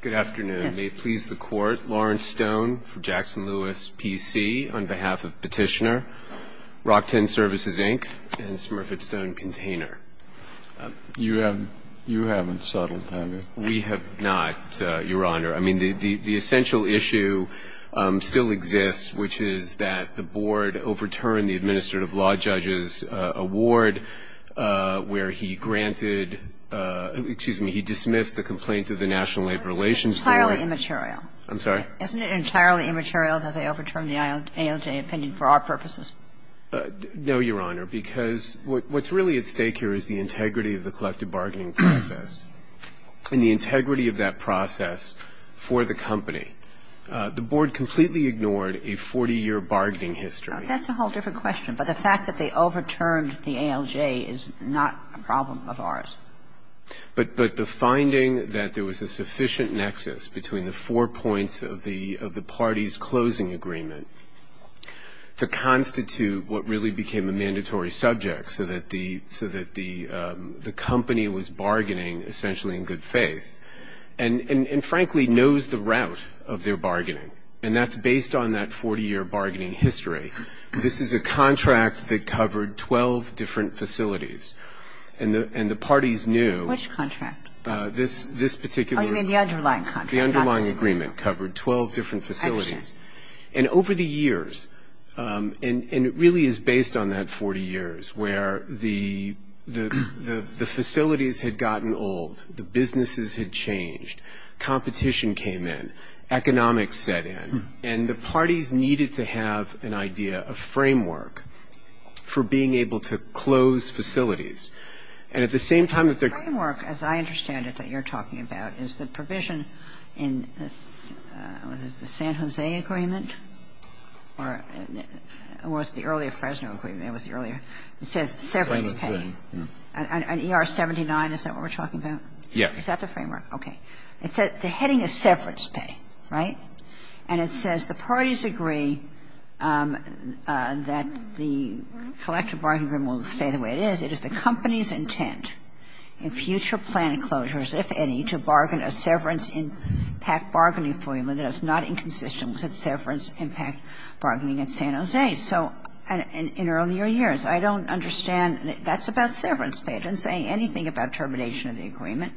Good afternoon. May it please the Court, Lawrence Stone for Jackson-Lewis, P.C. on behalf of Petitioner, Rock-Tenn Services, Inc. and Smurfett Stone Container. You haven't settled, have you? We have not, Your Honor. I mean, the essential issue still exists, which is that the Board overturned the administrative law judge's award, where he granted – excuse me, he dismissed the complaint to the National Labor Relations Board. It's entirely immaterial. I'm sorry? Isn't it entirely immaterial that they overturned the ALJ opinion for our purposes? No, Your Honor, because what's really at stake here is the integrity of the collective bargaining process and the integrity of that process for the company. The Board completely ignored a 40-year bargaining history. That's a whole different question. But the fact that they overturned the ALJ is not a problem of ours. But the finding that there was a sufficient nexus between the four points of the party's closing agreement to constitute what really became a mandatory subject so that the company was bargaining essentially in good faith and, frankly, knows the route of their This is a contract that covered 12 different facilities. And the parties knew – Which contract? This particular – Oh, you mean the underlying contract, not this agreement. The underlying agreement covered 12 different facilities. I see. And over the years, and it really is based on that 40 years, where the facilities had gotten old, the businesses had changed, competition came in, economics set in, and the parties needed to have an idea, a framework, for being able to close facilities. And at the same time that they're – The framework, as I understand it, that you're talking about, is the provision in the San Jose Agreement, or it was the earlier Fresno Agreement, it was the earlier – it says severance pay. And ER-79, is that what we're talking about? Yes. Is that the framework? Okay. It says – the heading is severance pay, right? And it says the parties agree that the collective bargaining agreement will stay the way it is. It is the company's intent in future planned closures, if any, to bargain a severance impact bargaining agreement that is not inconsistent with severance impact bargaining at San Jose. So in earlier years, I don't understand – that's about severance pay. It doesn't say anything about termination of the agreement.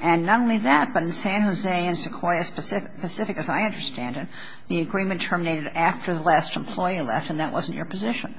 And not only that, but in San Jose and Sequoia Pacific, as I understand it, the agreement terminated after the last employee left, and that wasn't your position.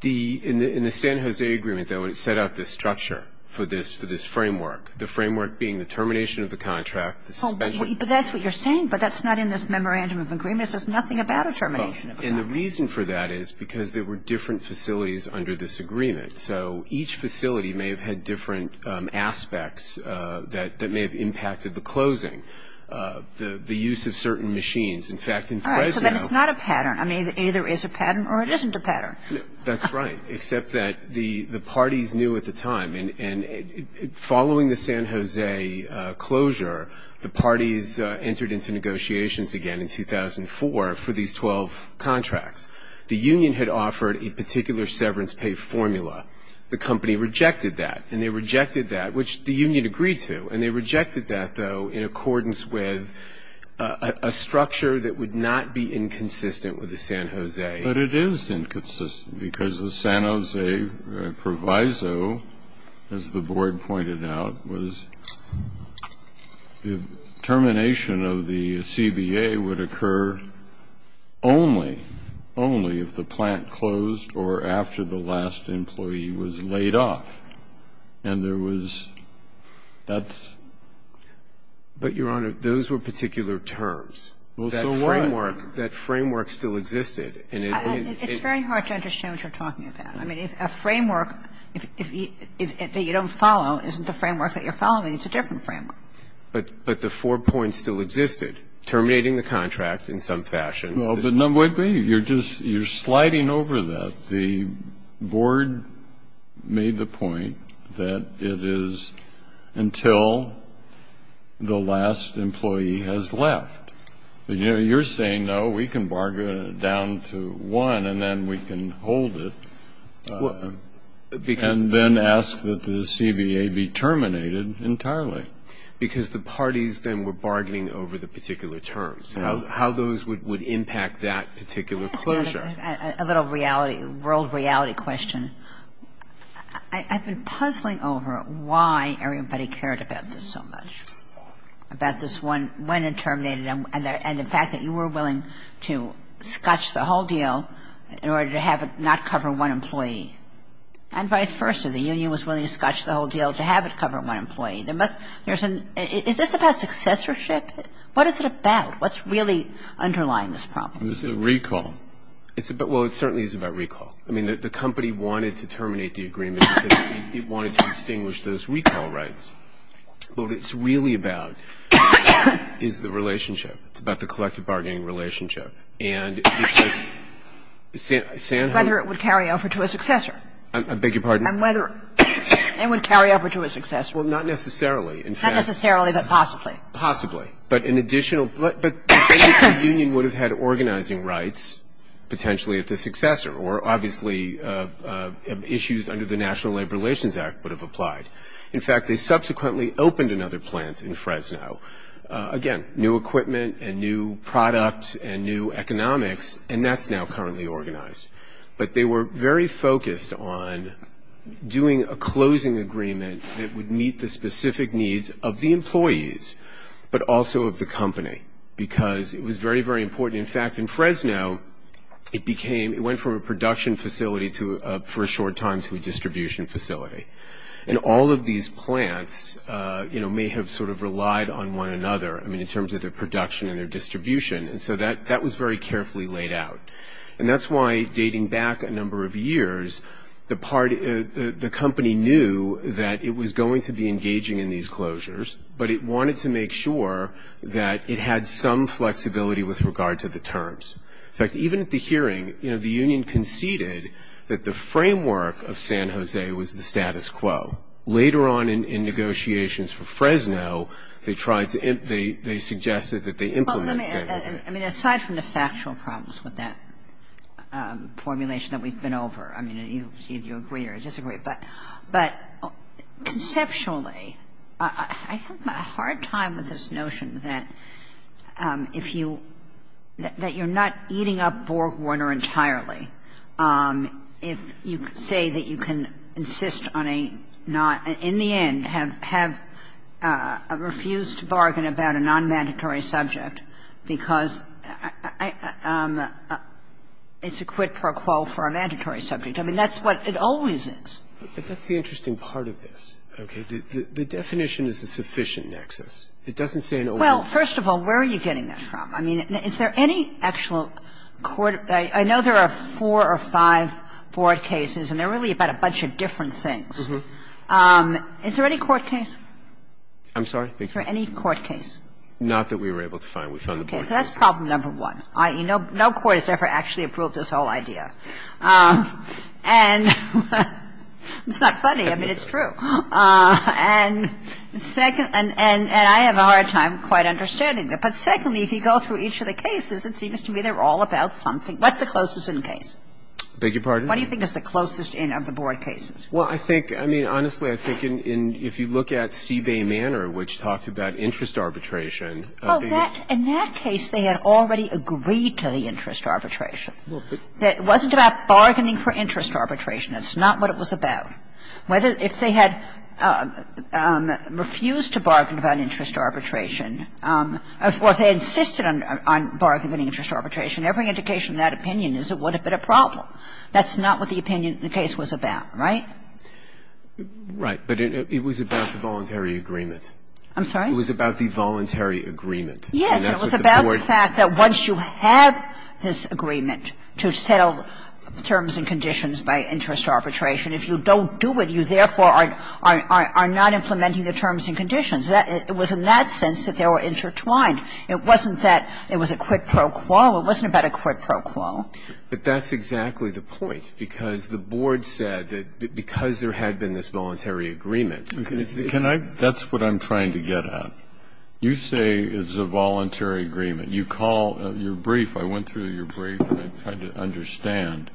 The – in the San Jose Agreement, though, it set out this structure for this – for this framework, the framework being the termination of the contract, the suspension of the contract. But that's what you're saying, but that's not in this memorandum of agreement. It says nothing about a termination of the contract. And the reason for that is because there were different facilities under this agreement. So each facility may have had different aspects that may have impacted the closing, the use of certain machines. In fact, in Fresno – All right, so then it's not a pattern. I mean, either it is a pattern or it isn't a pattern. That's right, except that the parties knew at the time. And following the San Jose closure, the parties entered into negotiations again in 2004 for these 12 contracts. The union had offered a particular severance pay formula. The company rejected that, and they rejected that, which the union agreed to. And they rejected that, though, in accordance with a structure that would not be inconsistent with the San Jose. But it is inconsistent because the San Jose proviso, as the board pointed out, was the termination of the CBA would occur only, only if the plant closed or after the last employee was laid off. And there was – that's – But, Your Honor, those were particular terms. Well, so what? That framework still existed. And it – It's very hard to understand what you're talking about. I mean, a framework that you don't follow isn't the framework that you're following. It's a different framework. But the four points still existed, terminating the contract in some fashion. No, but number one, you're just – you're sliding over that. The board made the point that it is until the last employee has left. You're saying, no, we can bargain it down to one and then we can hold it and then ask that the CBA be terminated entirely. Because the parties then were bargaining over the particular terms, how those would impact that particular closure. I've got a little reality, world reality question. I've been puzzling over why everybody cared about this so much, about this when and the fact that you were willing to scotch the whole deal in order to have it not cover one employee. And vice versa, the union was willing to scotch the whole deal to have it cover one employee. There must – there's an – is this about successorship? What is it about? What's really underlying this problem? It's a recall. It's about – well, it certainly is about recall. I mean, the company wanted to terminate the agreement because it wanted to extinguish those recall rights. What it's really about is the relationship. It's about the collective bargaining relationship. And because Sanhok – Whether it would carry over to a successor. I beg your pardon? And whether it would carry over to a successor. Well, not necessarily. In fact – Not necessarily, but possibly. Possibly. But an additional – but the union would have had organizing rights potentially if the successor, or obviously issues under the National Labor Relations Act would have applied. In fact, they subsequently opened another plant in Fresno. Again, new equipment and new product and new economics. And that's now currently organized. But they were very focused on doing a closing agreement that would meet the specific needs of the employees, but also of the company. Because it was very, very important. In fact, in Fresno, it became – it went from a production facility for a short time to a distribution facility. And all of these plants, you know, may have sort of relied on one another. I mean, in terms of their production and their distribution. And so that was very carefully laid out. And that's why, dating back a number of years, the company knew that it was going to be engaging in these closures, but it wanted to make sure that it had some flexibility with regard to the terms. In fact, even at the hearing, you know, the union conceded that the framework of the agreement would meet the status quo. Later on in negotiations for Fresno, they tried to – they suggested that they implement status quo. Kagan. Well, let me – I mean, aside from the factual problems with that formulation that we've been over, I mean, either you agree or disagree. But conceptually, I have a hard time with this notion that if you – that you're not eating up Borg Warner entirely, if you say that you can insist on a not – in the end, have a refused bargain about a nonmandatory subject, because it's a quid pro quo for a mandatory subject. I mean, that's what it always is. But that's the interesting part of this. Okay? The definition is a sufficient nexus. It doesn't say an only – Well, first of all, where are you getting that from? I mean, is there any actual court – I know there are four or five board cases, and they're really about a bunch of different things. Is there any court case? I'm sorry? Is there any court case? Not that we were able to find. We found the board case. Okay. So that's problem number one. No court has ever actually approved this whole idea. And it's not funny. I mean, it's true. And second – and I have a hard time quite understanding it. But secondly, if you go through each of the cases, it seems to me they're all about something. What's the closest-in case? I beg your pardon? What do you think is the closest-in of the board cases? Well, I think – I mean, honestly, I think in – if you look at Seabay Manor, which talked about interest arbitration. Well, that – in that case, they had already agreed to the interest arbitration. It wasn't about bargaining for interest arbitration. That's not what it was about. That's not what the opinion in the case was about. If the board didn't agree, the board would not be able to bargain. If they had refused to bargain about interest arbitration, or if they insisted on bargaining any interest arbitration, every indication of that opinion is it would have been a problem. That's not what the opinion in the case was about. Right? Right. But it was about the voluntary agreement. I'm sorry? It was about the voluntary agreement. Yes. It was about the fact that once you have this agreement to settle terms and conditions by interest arbitration, if you don't do it, you therefore are not implementing the terms and conditions. It was in that sense that they were intertwined. It wasn't that it was a quid pro quo. It wasn't about a quid pro quo. But that's exactly the point, because the board said that because there had been this voluntary agreement, it's the kind of thing that's what I'm trying to get at. You say it's a voluntary agreement. You call your brief. I went through your brief, and I tried to understand.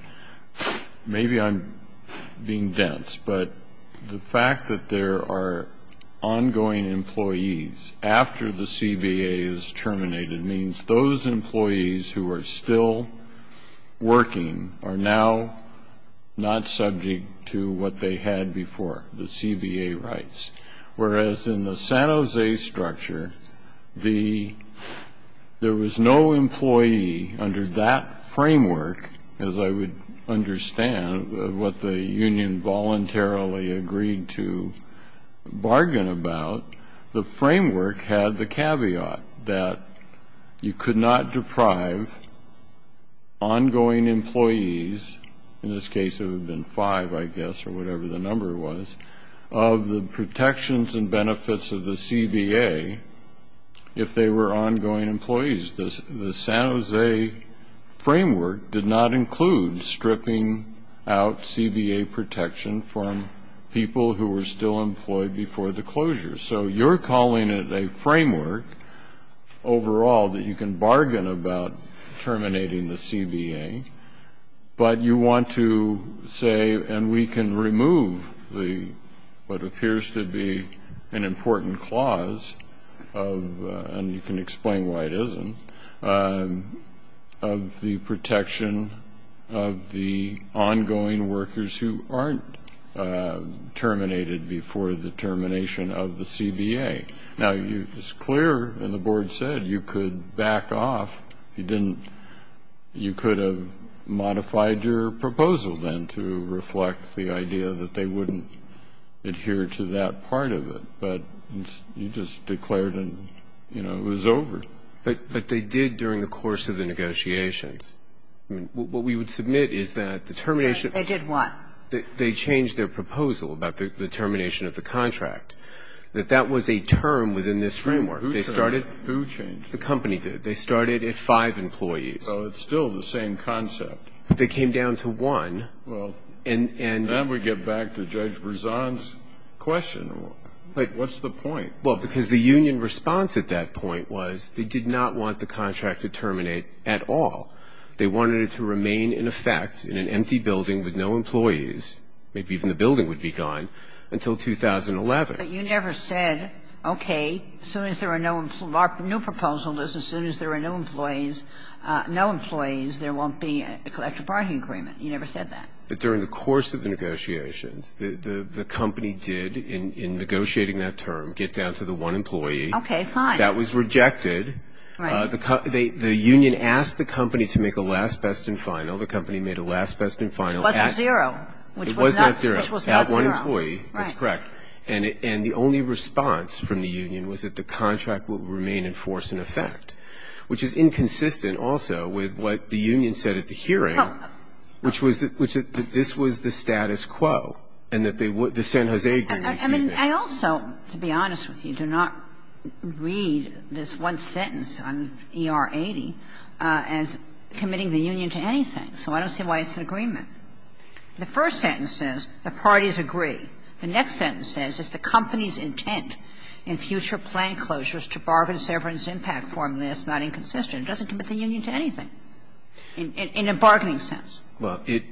Maybe I'm being dense, but the fact that there are ongoing employees after the CBA is terminated means those employees who are still working are now not subject to what they had before, the CBA rights. Whereas in the San Jose structure, there was no employee under that framework, as I would understand what the union voluntarily agreed to bargain about. The framework had the caveat that you could not deprive ongoing employees, in this respect, of the protections and benefits of the CBA if they were ongoing employees. The San Jose framework did not include stripping out CBA protection from people who were still employed before the closure. So you're calling it a framework overall that you can bargain about terminating the clause, and you can explain why it isn't, of the protection of the ongoing workers who aren't terminated before the termination of the CBA. Now, it's clear, and the board said, you could back off. You could have modified your proposal then to reflect the idea that they wouldn't adhere to that part of it, but you just declared and, you know, it was over. But they did during the course of the negotiations. I mean, what we would submit is that the termination of the contract. They did what? They changed their proposal about the termination of the contract, that that was a term within this framework. Who changed it? The company did. They started at five employees. So it's still the same concept. They came down to one. And then we get back to Judge Brezan's question. What's the point? Well, because the union response at that point was they did not want the contract to terminate at all. They wanted it to remain in effect in an empty building with no employees. Maybe even the building would be gone until 2011. But you never said, okay, as soon as there are no new proposals, as soon as there are no employees, no employees, there won't be a collective bargaining agreement. You never said that. But during the course of the negotiations, the company did, in negotiating that term, get down to the one employee. Okay, fine. That was rejected. Right. The union asked the company to make a last, best, and final. The company made a last, best, and final. It wasn't zero, which was not zero. It was not zero. So it had one employee. Right. That's correct. And the only response from the union was that the contract would remain in force and effect, which is inconsistent also with what the union said at the hearing, which was that this was the status quo and that the San Jose agreement was zero. I mean, I also, to be honest with you, do not read this one sentence on ER-80 as committing the union to anything. So I don't see why it's an agreement. The first sentence says the parties agree. The next sentence says it's the company's intent in future plan closures to bargain severance impact formula that's not inconsistent. It doesn't commit the union to anything. In a bargaining sense. Well, it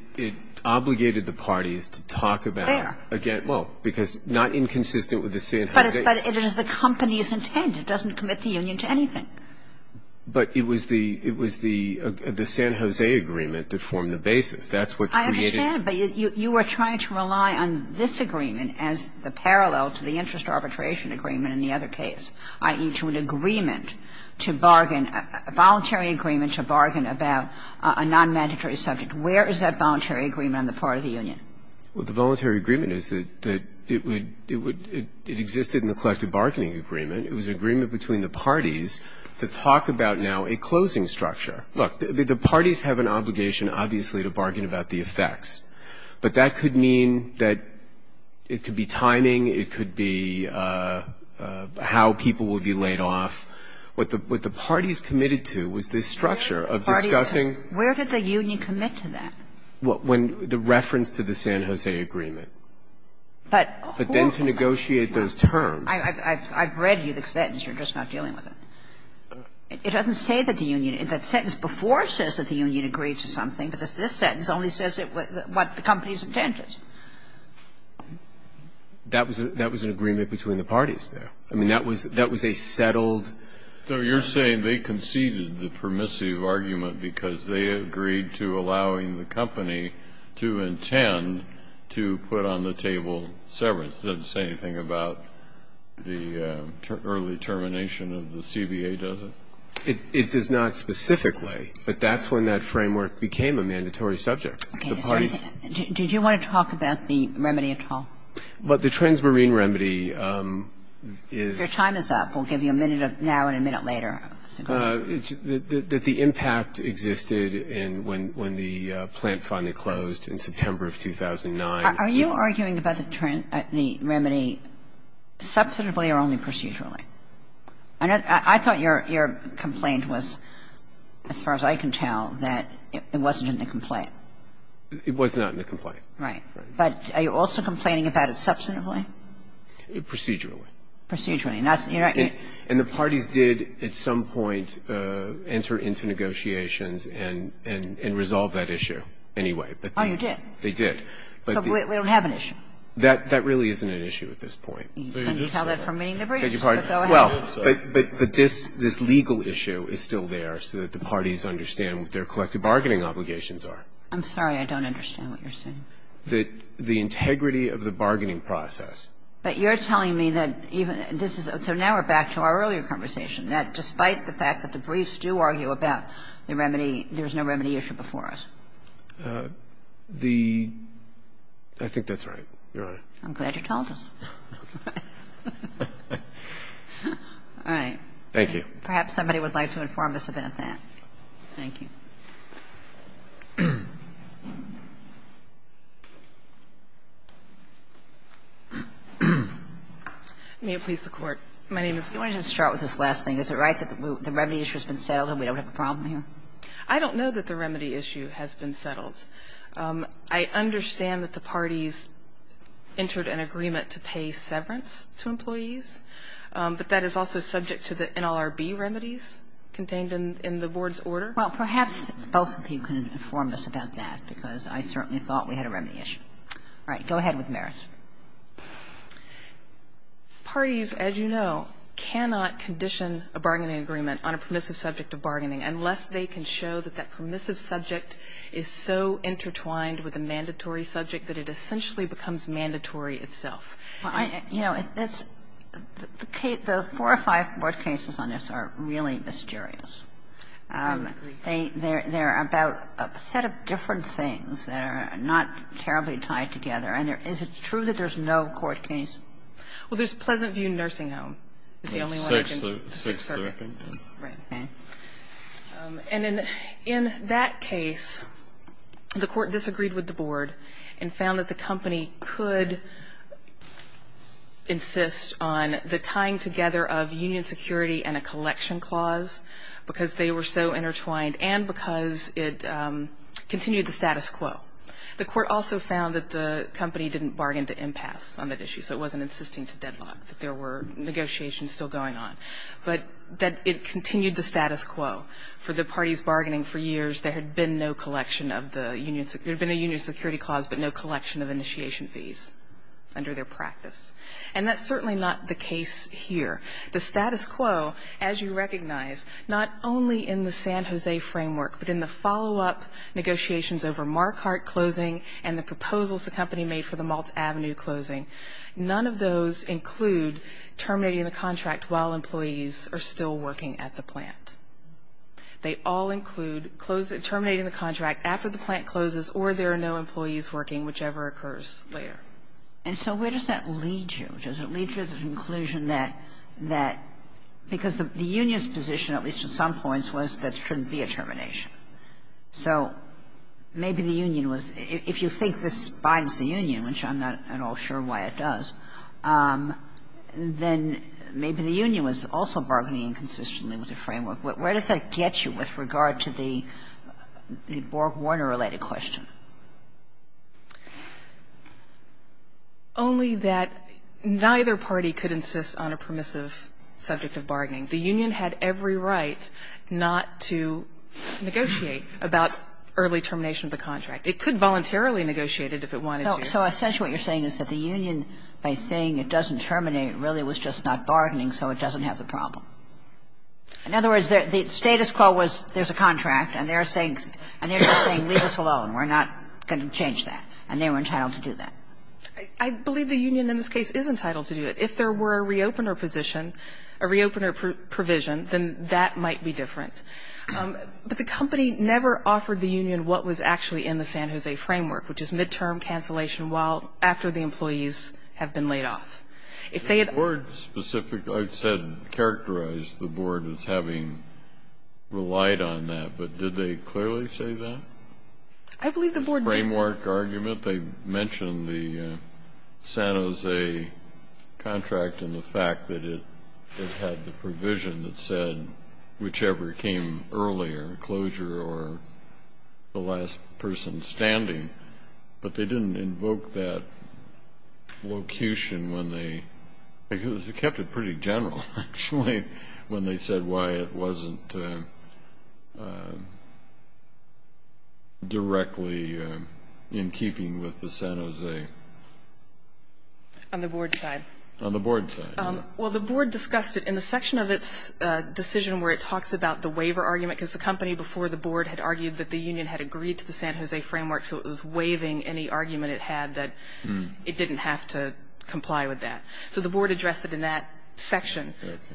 obligated the parties to talk about it. There. Again, well, because not inconsistent with the San Jose. But it is the company's intent. It doesn't commit the union to anything. But it was the San Jose agreement that formed the basis. That's what created. I understand. But you are trying to rely on this agreement as the parallel to the interest arbitration agreement in the other case, i.e., to an agreement to bargain, a voluntary agreement to bargain about a non-mandatory subject. Where is that voluntary agreement on the part of the union? Well, the voluntary agreement is that it would, it would, it existed in the collective bargaining agreement. It was an agreement between the parties to talk about now a closing structure. Look, the parties have an obligation, obviously, to bargain about the effects. But that could mean that it could be timing. It could be how people will be laid off. What the parties committed to was this structure of discussing. Where did the union commit to that? When the reference to the San Jose agreement. But then to negotiate those terms. I've read you the sentence. You're just not dealing with it. It doesn't say that the union, that sentence before says that the union agrees to something, but this sentence only says what the company's intent is. That was an agreement between the parties there. I mean, that was a settled. So you're saying they conceded the permissive argument because they agreed to allowing the company to intend to put on the table severance. It doesn't say anything about the early termination of the CBA, does it? It does not specifically. But that's when that framework became a mandatory subject. Okay. Did you want to talk about the remedy at all? But the Transmarine remedy is Your time is up. We'll give you a minute now and a minute later. That the impact existed when the plant finally closed in September of 2009. Are you arguing about the remedy substantively or only procedurally? I thought your complaint was, as far as I can tell, that it wasn't in the complaint. It was not in the complaint. Right. But are you also complaining about it substantively? Procedurally. Procedurally. And the parties did at some point enter into negotiations and resolve that issue anyway. Oh, you did? They did. So we don't have an issue? That really isn't an issue at this point. Can you tell that from meeting the briefs? Go ahead. Well, but this legal issue is still there so that the parties understand what their collective bargaining obligations are. I'm sorry. I don't understand what you're saying. The integrity of the bargaining process. But you're telling me that even this is so now we're back to our earlier conversation, that despite the fact that the briefs do argue about the remedy, there's no remedy issue before us? The – I think that's right, Your Honor. I'm glad you told us. All right. Thank you. Perhaps somebody would like to inform us about that. Thank you. May it please the Court. My name is Lee. You wanted to start with this last thing. Is it right that the remedy issue has been settled and we don't have a problem here? I don't know that the remedy issue has been settled. I understand that the parties entered an agreement to pay severance to employees, but that is also subject to the NLRB remedies contained in the board's order. Well, perhaps both of you can inform us about that, because I certainly thought we had a remedy issue. All right. Go ahead with Maris. Parties, as you know, cannot condition a bargaining agreement on a permissive subject of bargaining unless they can show that that permissive subject is so intertwined with a mandatory subject that it essentially becomes mandatory itself. You know, it's – the four or five board cases on this are really mysterious. I agree. They're about a set of different things that are not terribly tied together. And is it true that there's no court case? Well, there's Pleasantview Nursing Home. It's the only one I can think of. Sixth Circuit. Right. And in that case, the Court disagreed with the board and found that the company could insist on the tying together of union security and a collection clause, because they were so intertwined and because it continued the status quo. The Court also found that the company didn't bargain to impasse on that issue, so it wasn't insisting to deadlock, that there were negotiations still going on, but that it continued the status quo. For the parties bargaining for years, there had been no collection of the union – there had been a union security clause, but no collection of initiation fees under their practice. And that's certainly not the case here. The status quo, as you recognize, not only in the San Jose framework, but in the follow-up negotiations over Marquardt closing and the proposals the company made for the Malts Avenue closing, none of those include terminating the contract while employees are still working at the plant. They all include terminating the contract after the plant closes or there are no employees working, whichever occurs later. And so where does that lead you? Which is it leads you to the conclusion that that – because the union's position, at least at some points, was that there shouldn't be a termination. So maybe the union was – if you think this binds the union, which I'm not at all sure why it does, then maybe the union was also bargaining inconsistently with the framework. Where does that get you with regard to the Borg-Warner-related question? Only that neither party could insist on a permissive subject of bargaining. The union had every right not to negotiate about early termination of the contract. It could voluntarily negotiate it if it wanted to. So essentially what you're saying is that the union, by saying it doesn't terminate, really was just not bargaining so it doesn't have the problem. In other words, the status quo was there's a contract and they're saying – and they're just saying leave us alone. We're not going to change that. And they were entitled to do that. I believe the union in this case is entitled to do it. If there were a re-opener position, a re-opener provision, then that might be different. But the company never offered the union what was actually in the San Jose framework, which is midterm cancellation while – after the employees have been laid off. If they had – The board specifically, I said, characterized the board as having relied on that. But did they clearly say that? I believe the board did. The framework argument, they mentioned the San Jose contract and the fact that it had the provision that said whichever came earlier, closure or the last person standing. But they didn't invoke that locution when they – because they kept it pretty general, actually, when they said why it wasn't directly in keeping with the San Jose. On the board's side. On the board's side. Well, the board discussed it in the section of its decision where it talks about the waiver argument because the company before the board had argued that the union had agreed to the San Jose framework, so it was waiving any argument it had that it didn't have to comply with that. So the board addressed it in that section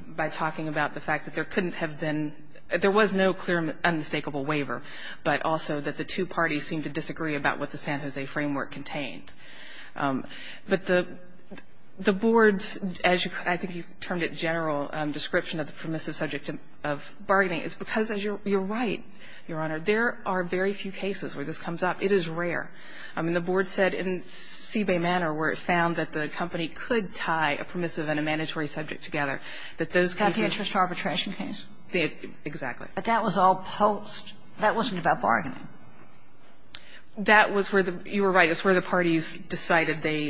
by talking about the fact that there couldn't have been – there was no clear and unmistakable waiver, but also that the two parties seemed to disagree about what the San Jose framework contained. But the board's, as I think you termed it, general description of the permissive subject of bargaining is because you're right, Your Honor. There are very few cases where this comes up. It is rare. I mean, the board said in Seabay Manor, where it found that the company could tie a permissive and a mandatory subject together, that those cases – Got the interest arbitration case. Exactly. But that was all post. That wasn't about bargaining. That was where the – you were right. It's where the parties decided they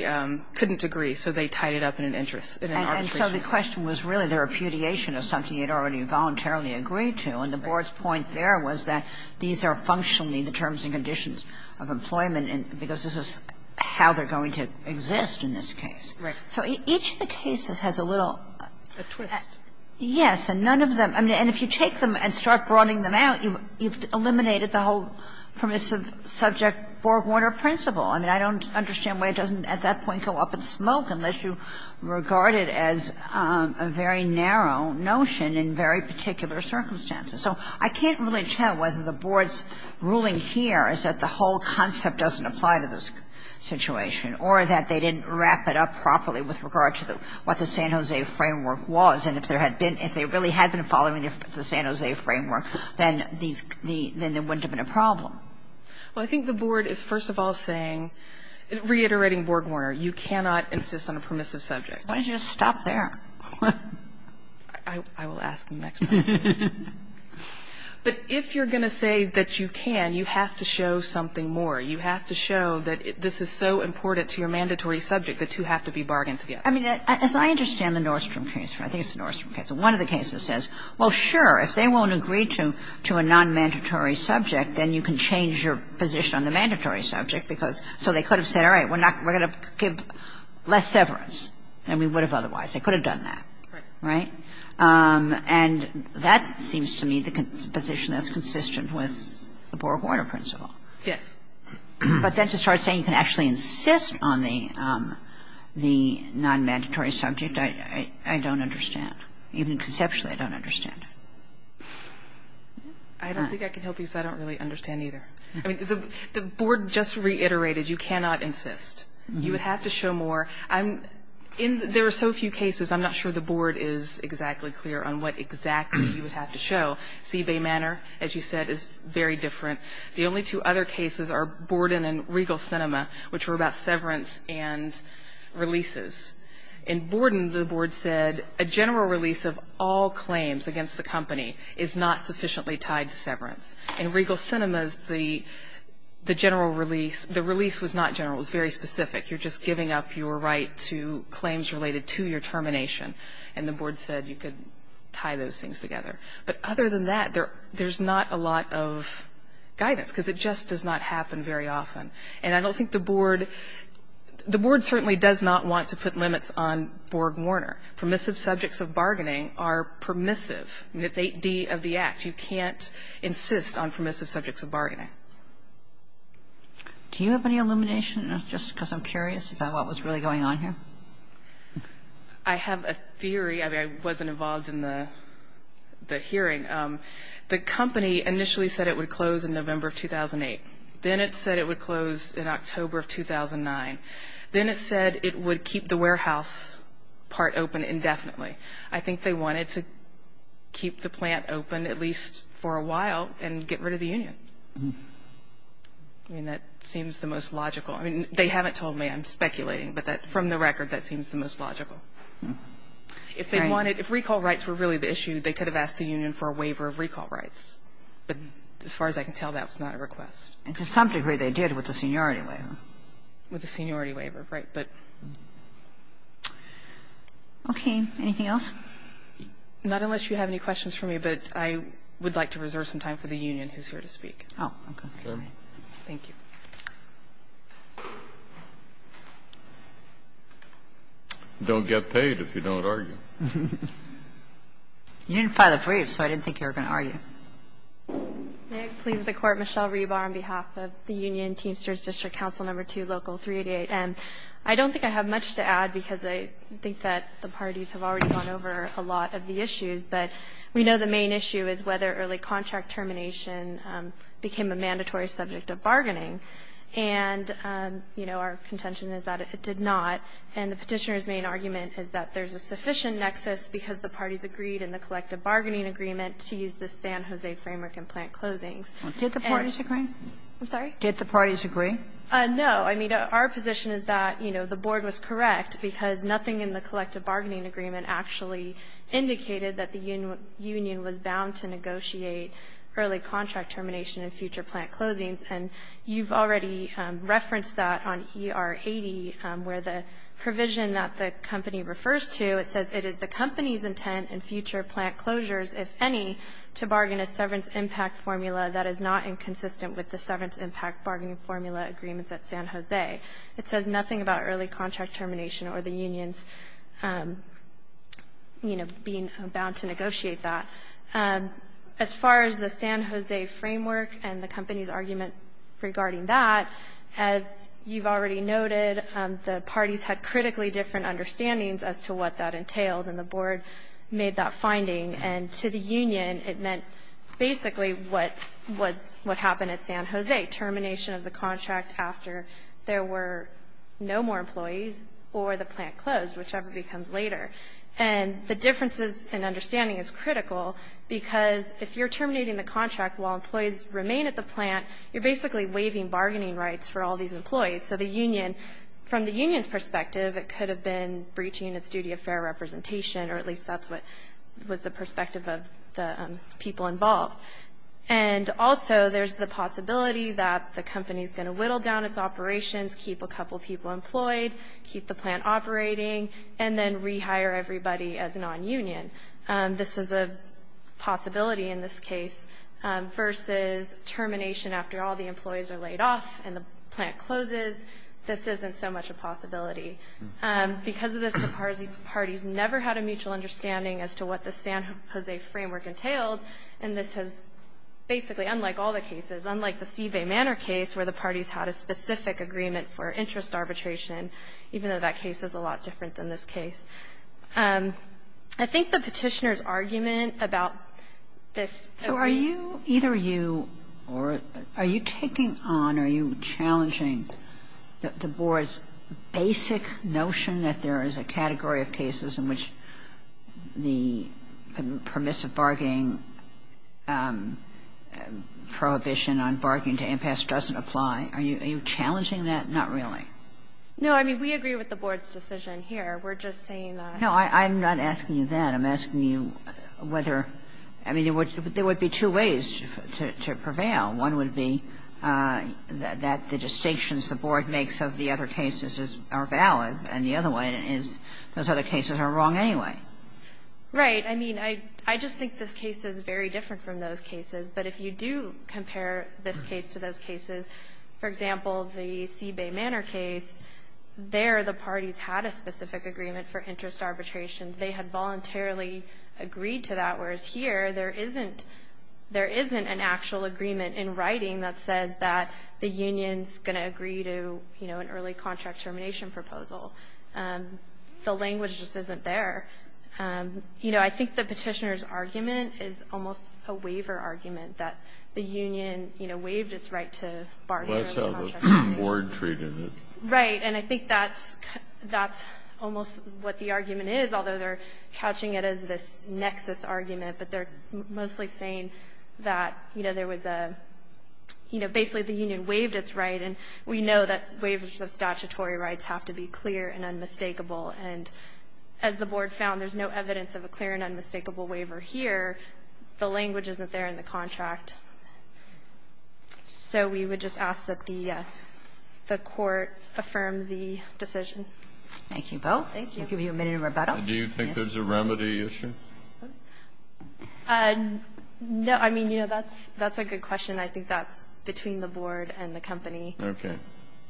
couldn't agree, so they tied it up in an interest in an arbitration case. And so the question was really the repudiation of something you'd already voluntarily agreed to. And the board's point there was that these are functionally the terms and conditions of employment, because this is how they're going to exist in this case. Right. So each of the cases has a little – A twist. Yes. And none of them – I mean, and if you take them and start broadening them out, you've eliminated the whole permissive subject-forewarner principle. I mean, I don't understand why it doesn't at that point go up in smoke unless you regard it as a very narrow notion in very particular circumstances. So I can't really tell whether the board's ruling here is that the whole concept doesn't apply to this situation or that they didn't wrap it up properly with regard to what the San Jose framework was. And if there had been – if they really had been following the San Jose framework, then these – then there wouldn't have been a problem. Well, I think the board is, first of all, saying – reiterating Borgwarner – you cannot insist on a permissive subject. Why don't you just stop there? I will ask them next time. But if you're going to say that you can, you have to show something more. You have to show that this is so important to your mandatory subject, the two have to be bargained together. I mean, as I understand the Nordstrom case, I think it's the Nordstrom case. One of the cases says, well, sure, if they won't agree to a nonmandatory subject, then you can change your position on the mandatory subject, because so they could have said, all right, we're not – we're going to give less severance than we would have otherwise. They could have done that. Right? And that seems to me the position that's consistent with the Borgwarner principle. Yes. But then to start saying you can actually insist on the nonmandatory subject, I don't understand. Even conceptually, I don't understand. I don't think I can help you, because I don't really understand either. I mean, the board just reiterated you cannot insist. You would have to show more. There are so few cases, I'm not sure the board is exactly clear on what exactly you would have to show. Seabay Manor, as you said, is very different. The only two other cases are Borden and Regal Cinema, which were about severance and releases. In Borden, the board said a general release of all claims against the company is not sufficiently tied to severance. In Regal Cinemas, the general release, the release was not general. It was very specific. You're just giving up your right to claims related to your termination, and the board said you could tie those things together. But other than that, there's not a lot of guidance, because it just does not happen very often. And I don't think the board, the board certainly does not want to put limits on Borgwarner. Permissive subjects of bargaining are permissive. It's 8D of the Act. You can't insist on permissive subjects of bargaining. Do you have any elimination, just because I'm curious about what was really going on here? I have a theory. I mean, I wasn't involved in the hearing. The company initially said it would close in November of 2008. Then it said it would close in October of 2009. Then it said it would keep the warehouse part open indefinitely. I think they wanted to keep the plant open at least for a while and get rid of the union. I mean, that seems the most logical. I mean, they haven't told me. I'm speculating. But from the record, that seems the most logical. If they wanted, if recall rights were really the issue, they could have asked the union for a waiver of recall rights. But as far as I can tell, that was not a request. And to some degree, they did with the seniority waiver. With the seniority waiver, right. But, okay. Anything else? Not unless you have any questions for me. But I would like to reserve some time for the union who's here to speak. Oh, okay. Thank you. Don't get paid if you don't argue. You didn't file a brief, so I didn't think you were going to argue. May it please the Court. Michelle Rebar on behalf of the union Teamsters District Council No. 2, Local 388. I don't think I have much to add, because I think that the parties have already gone over a lot of the issues, but we know the main issue is whether early contract termination became a mandatory subject of bargaining. And, you know, our contention is that it did not. And the Petitioner's main argument is that there's a sufficient nexus because the parties agreed in the collective bargaining agreement to use the San Jose framework and plant closings. Did the parties agree? I'm sorry? Did the parties agree? No. I mean, our position is that, you know, the board was correct, because nothing in the collective bargaining agreement actually indicated that the union was bound to negotiate early contract termination and future plant closings. And you've already referenced that on ER 80, where the provision that the company refers to, it says it is the company's intent and future plant closures, if any, to bargain a severance impact formula that is not inconsistent with the severance impact bargaining formula agreements at San Jose. It says nothing about early contract termination or the unions, you know, being bound to negotiate that. As far as the San Jose framework and the company's argument regarding that, as you've already noted, the parties had critically different understandings as to what that entailed, and the board made that finding. And to the union, it meant basically what was what happened at San Jose, termination of the contract after there were no more employees or the plant closed, whichever becomes later. And the differences in understanding is critical, because if you're terminating the contract while employees remain at the plant, you're basically waiving bargaining rights for all these employees. So the union, from the union's perspective, it could have been breaching its duty of fair representation, or at least that's what was the perspective of the people involved. And also there's the possibility that the company's going to whittle down its operations, keep a couple people employed, keep the plant operating, and then rehire everybody as a nonunion. This is a possibility in this case, versus termination after all the employees are laid off and the plant closes. This isn't so much a possibility. Because of this, the Parsi parties never had a mutual understanding as to what the San Jose framework entailed, and this has basically, unlike all the cases, unlike the Seabay Manor case, where the parties had a specific agreement for interest arbitration, even though that case is a lot different than this case. I think the Petitioner's argument about this agreement was that there were no more than two ways to prevail. And I think that's the basic notion that there is a category of cases in which the permissive bargaining prohibition on bargaining to impasse doesn't apply. Are you challenging that? Not really. No. I mean, we agree with the Board's decision here. We're just saying that. No. I'm not asking you that. I'm asking you whether, I mean, there would be two ways to prevail. One would be that the distinctions the Board makes of the other cases are valid, and the other one is those other cases are wrong anyway. Right. I mean, I just think this case is very different from those cases. But if you do compare this case to those cases, for example, the Seabay Manor case, there the parties had a specific agreement for interest arbitration. They had voluntarily agreed to that, whereas here there isn't an actual agreement in writing that says that the union's going to agree to, you know, an early contract termination proposal. The language just isn't there. You know, I think the Petitioner's argument is almost a waiver argument, that the union, you know, waived its right to bargain. Well, that's how the Board treated it. Right. And I think that's almost what the argument is, although they're couching it as this nexus argument. But they're mostly saying that, you know, there was a, you know, basically the union waived its right. And we know that waivers of statutory rights have to be clear and unmistakable. And as the Board found, there's no evidence of a clear and unmistakable waiver here. The language isn't there in the contract. So we would just ask that the Court affirm the decision. Thank you both. Thank you. I'll give you a minute of rebuttal. Do you think there's a remedy issue? No. I mean, you know, that's a good question. I think that's between the Board and the company. Okay.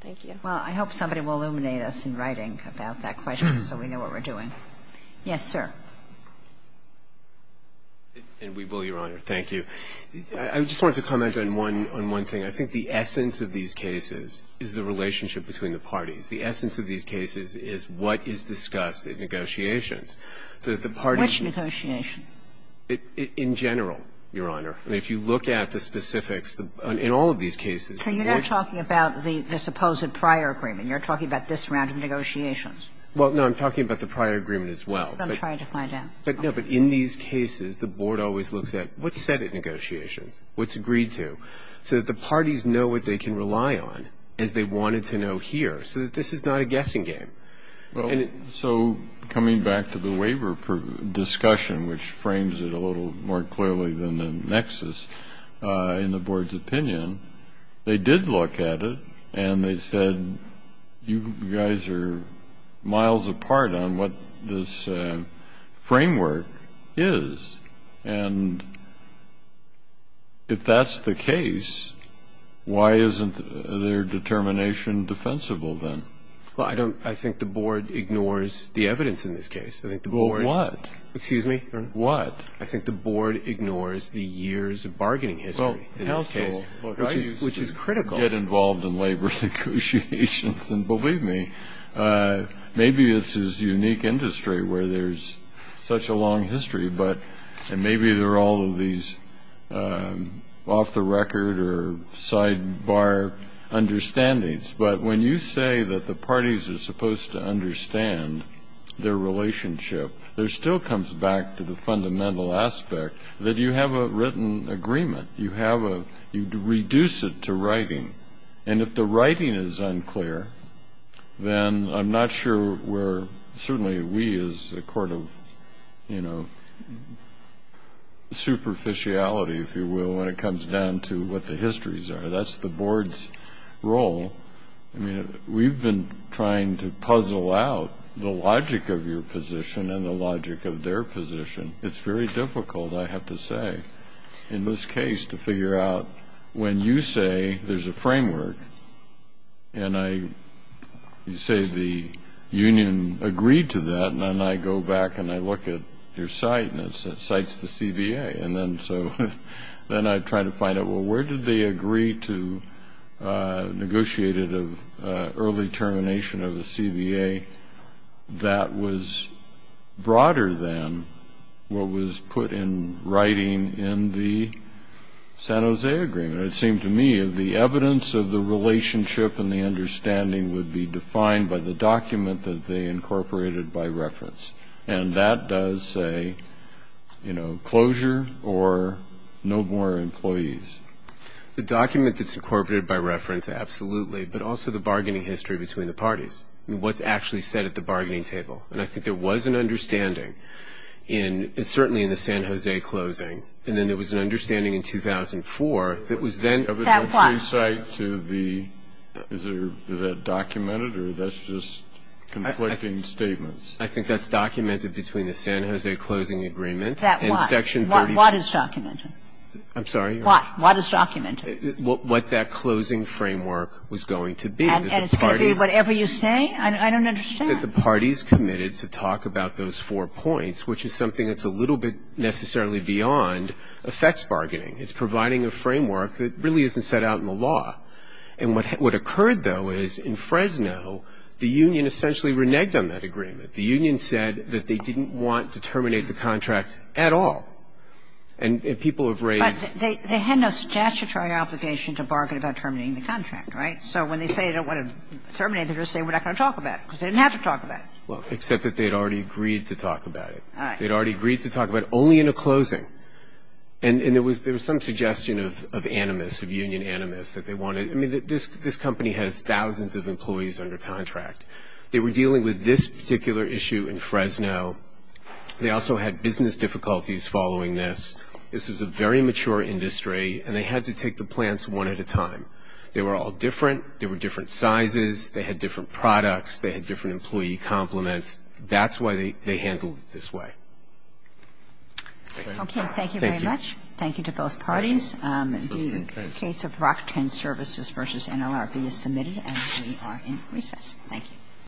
Thank you. Well, I hope somebody will illuminate us in writing about that question so we know what we're doing. Yes, sir. And we will, Your Honor. Thank you. I just wanted to comment on one thing. I think the essence of these cases is the relationship between the parties. The essence of these cases is what is discussed at negotiations, so that the parties Which negotiations? In general, Your Honor. I mean, if you look at the specifics in all of these cases. So you're not talking about the supposed prior agreement. You're talking about this round of negotiations. Well, no, I'm talking about the prior agreement as well. I'm trying to find out. No, but in these cases, the Board always looks at what's said at negotiations, what's agreed to, so that the parties know what they can rely on, as they wanted to know here, so that this is not a guessing game. So coming back to the waiver discussion, which frames it a little more clearly than the nexus in the Board's opinion, they did look at it, and they said, you guys are miles apart on what this framework is. And if that's the case, why isn't their determination defensible then? Well, I think the Board ignores the evidence in this case. Well, what? Excuse me, Your Honor. What? I think the Board ignores the years of bargaining history in this case, which is critical. Well, get involved in labor negotiations, and believe me, maybe it's this unique industry where there's such a long history, and maybe there are all of these off-the-record or sidebar understandings. But when you say that the parties are supposed to understand their relationship, there still comes back to the fundamental aspect that you have a written agreement. You reduce it to writing. And if the writing is unclear, then I'm not sure where certainly we as a court of, you know, superficiality, if you will, when it comes down to what the histories are. That's the Board's role. I mean, we've been trying to puzzle out the logic of your position and the logic of their position. It's very difficult, I have to say, in this case to figure out when you say there's a framework and you say the union agreed to that, and then I go back and I look at your site, and it cites the CBA. And then so then I try to find out, well, where did they agree to negotiate an early termination of the CBA that was broader than what was put in writing in the San Jose Agreement? It seemed to me the evidence of the relationship and the understanding would be defined by the document that they incorporated by reference. And that does say, you know, closure or no more employees. The document that's incorporated by reference, absolutely, but also the bargaining history between the parties. I mean, what's actually said at the bargaining table? And I think there was an understanding, certainly in the San Jose closing, and then there was an understanding in 2004 that was then ---- That what? Is that documented or that's just conflicting statements? I think that's documented between the San Jose Closing Agreement and Section 30. What is documented? I'm sorry? What? What is documented? What that closing framework was going to be. And it's going to be whatever you say? I don't understand. That the parties committed to talk about those four points, which is something that's a little bit necessarily beyond effects bargaining. It's providing a framework that really isn't set out in the law. And what occurred, though, is in Fresno, the union essentially reneged on that agreement. The union said that they didn't want to terminate the contract at all. And people have raised ---- But they had no statutory obligation to bargain about terminating the contract, right? So when they say they don't want to terminate it, they're just saying we're not going to talk about it because they didn't have to talk about it. Well, except that they had already agreed to talk about it. All right. They had already agreed to talk about it, only in a closing. And there was some suggestion of animus, of union animus, that they wanted to ---- I mean, this company has thousands of employees under contract. They were dealing with this particular issue in Fresno. They also had business difficulties following this. This was a very mature industry, and they had to take the plants one at a time. They were all different. They were different sizes. They had different products. They had different employee complements. That's why they handled it this way. Thank you. Thank you very much. Thank you to both parties. The case of Rockton Services v. NLRB is submitted, and we are in recess. Thank you.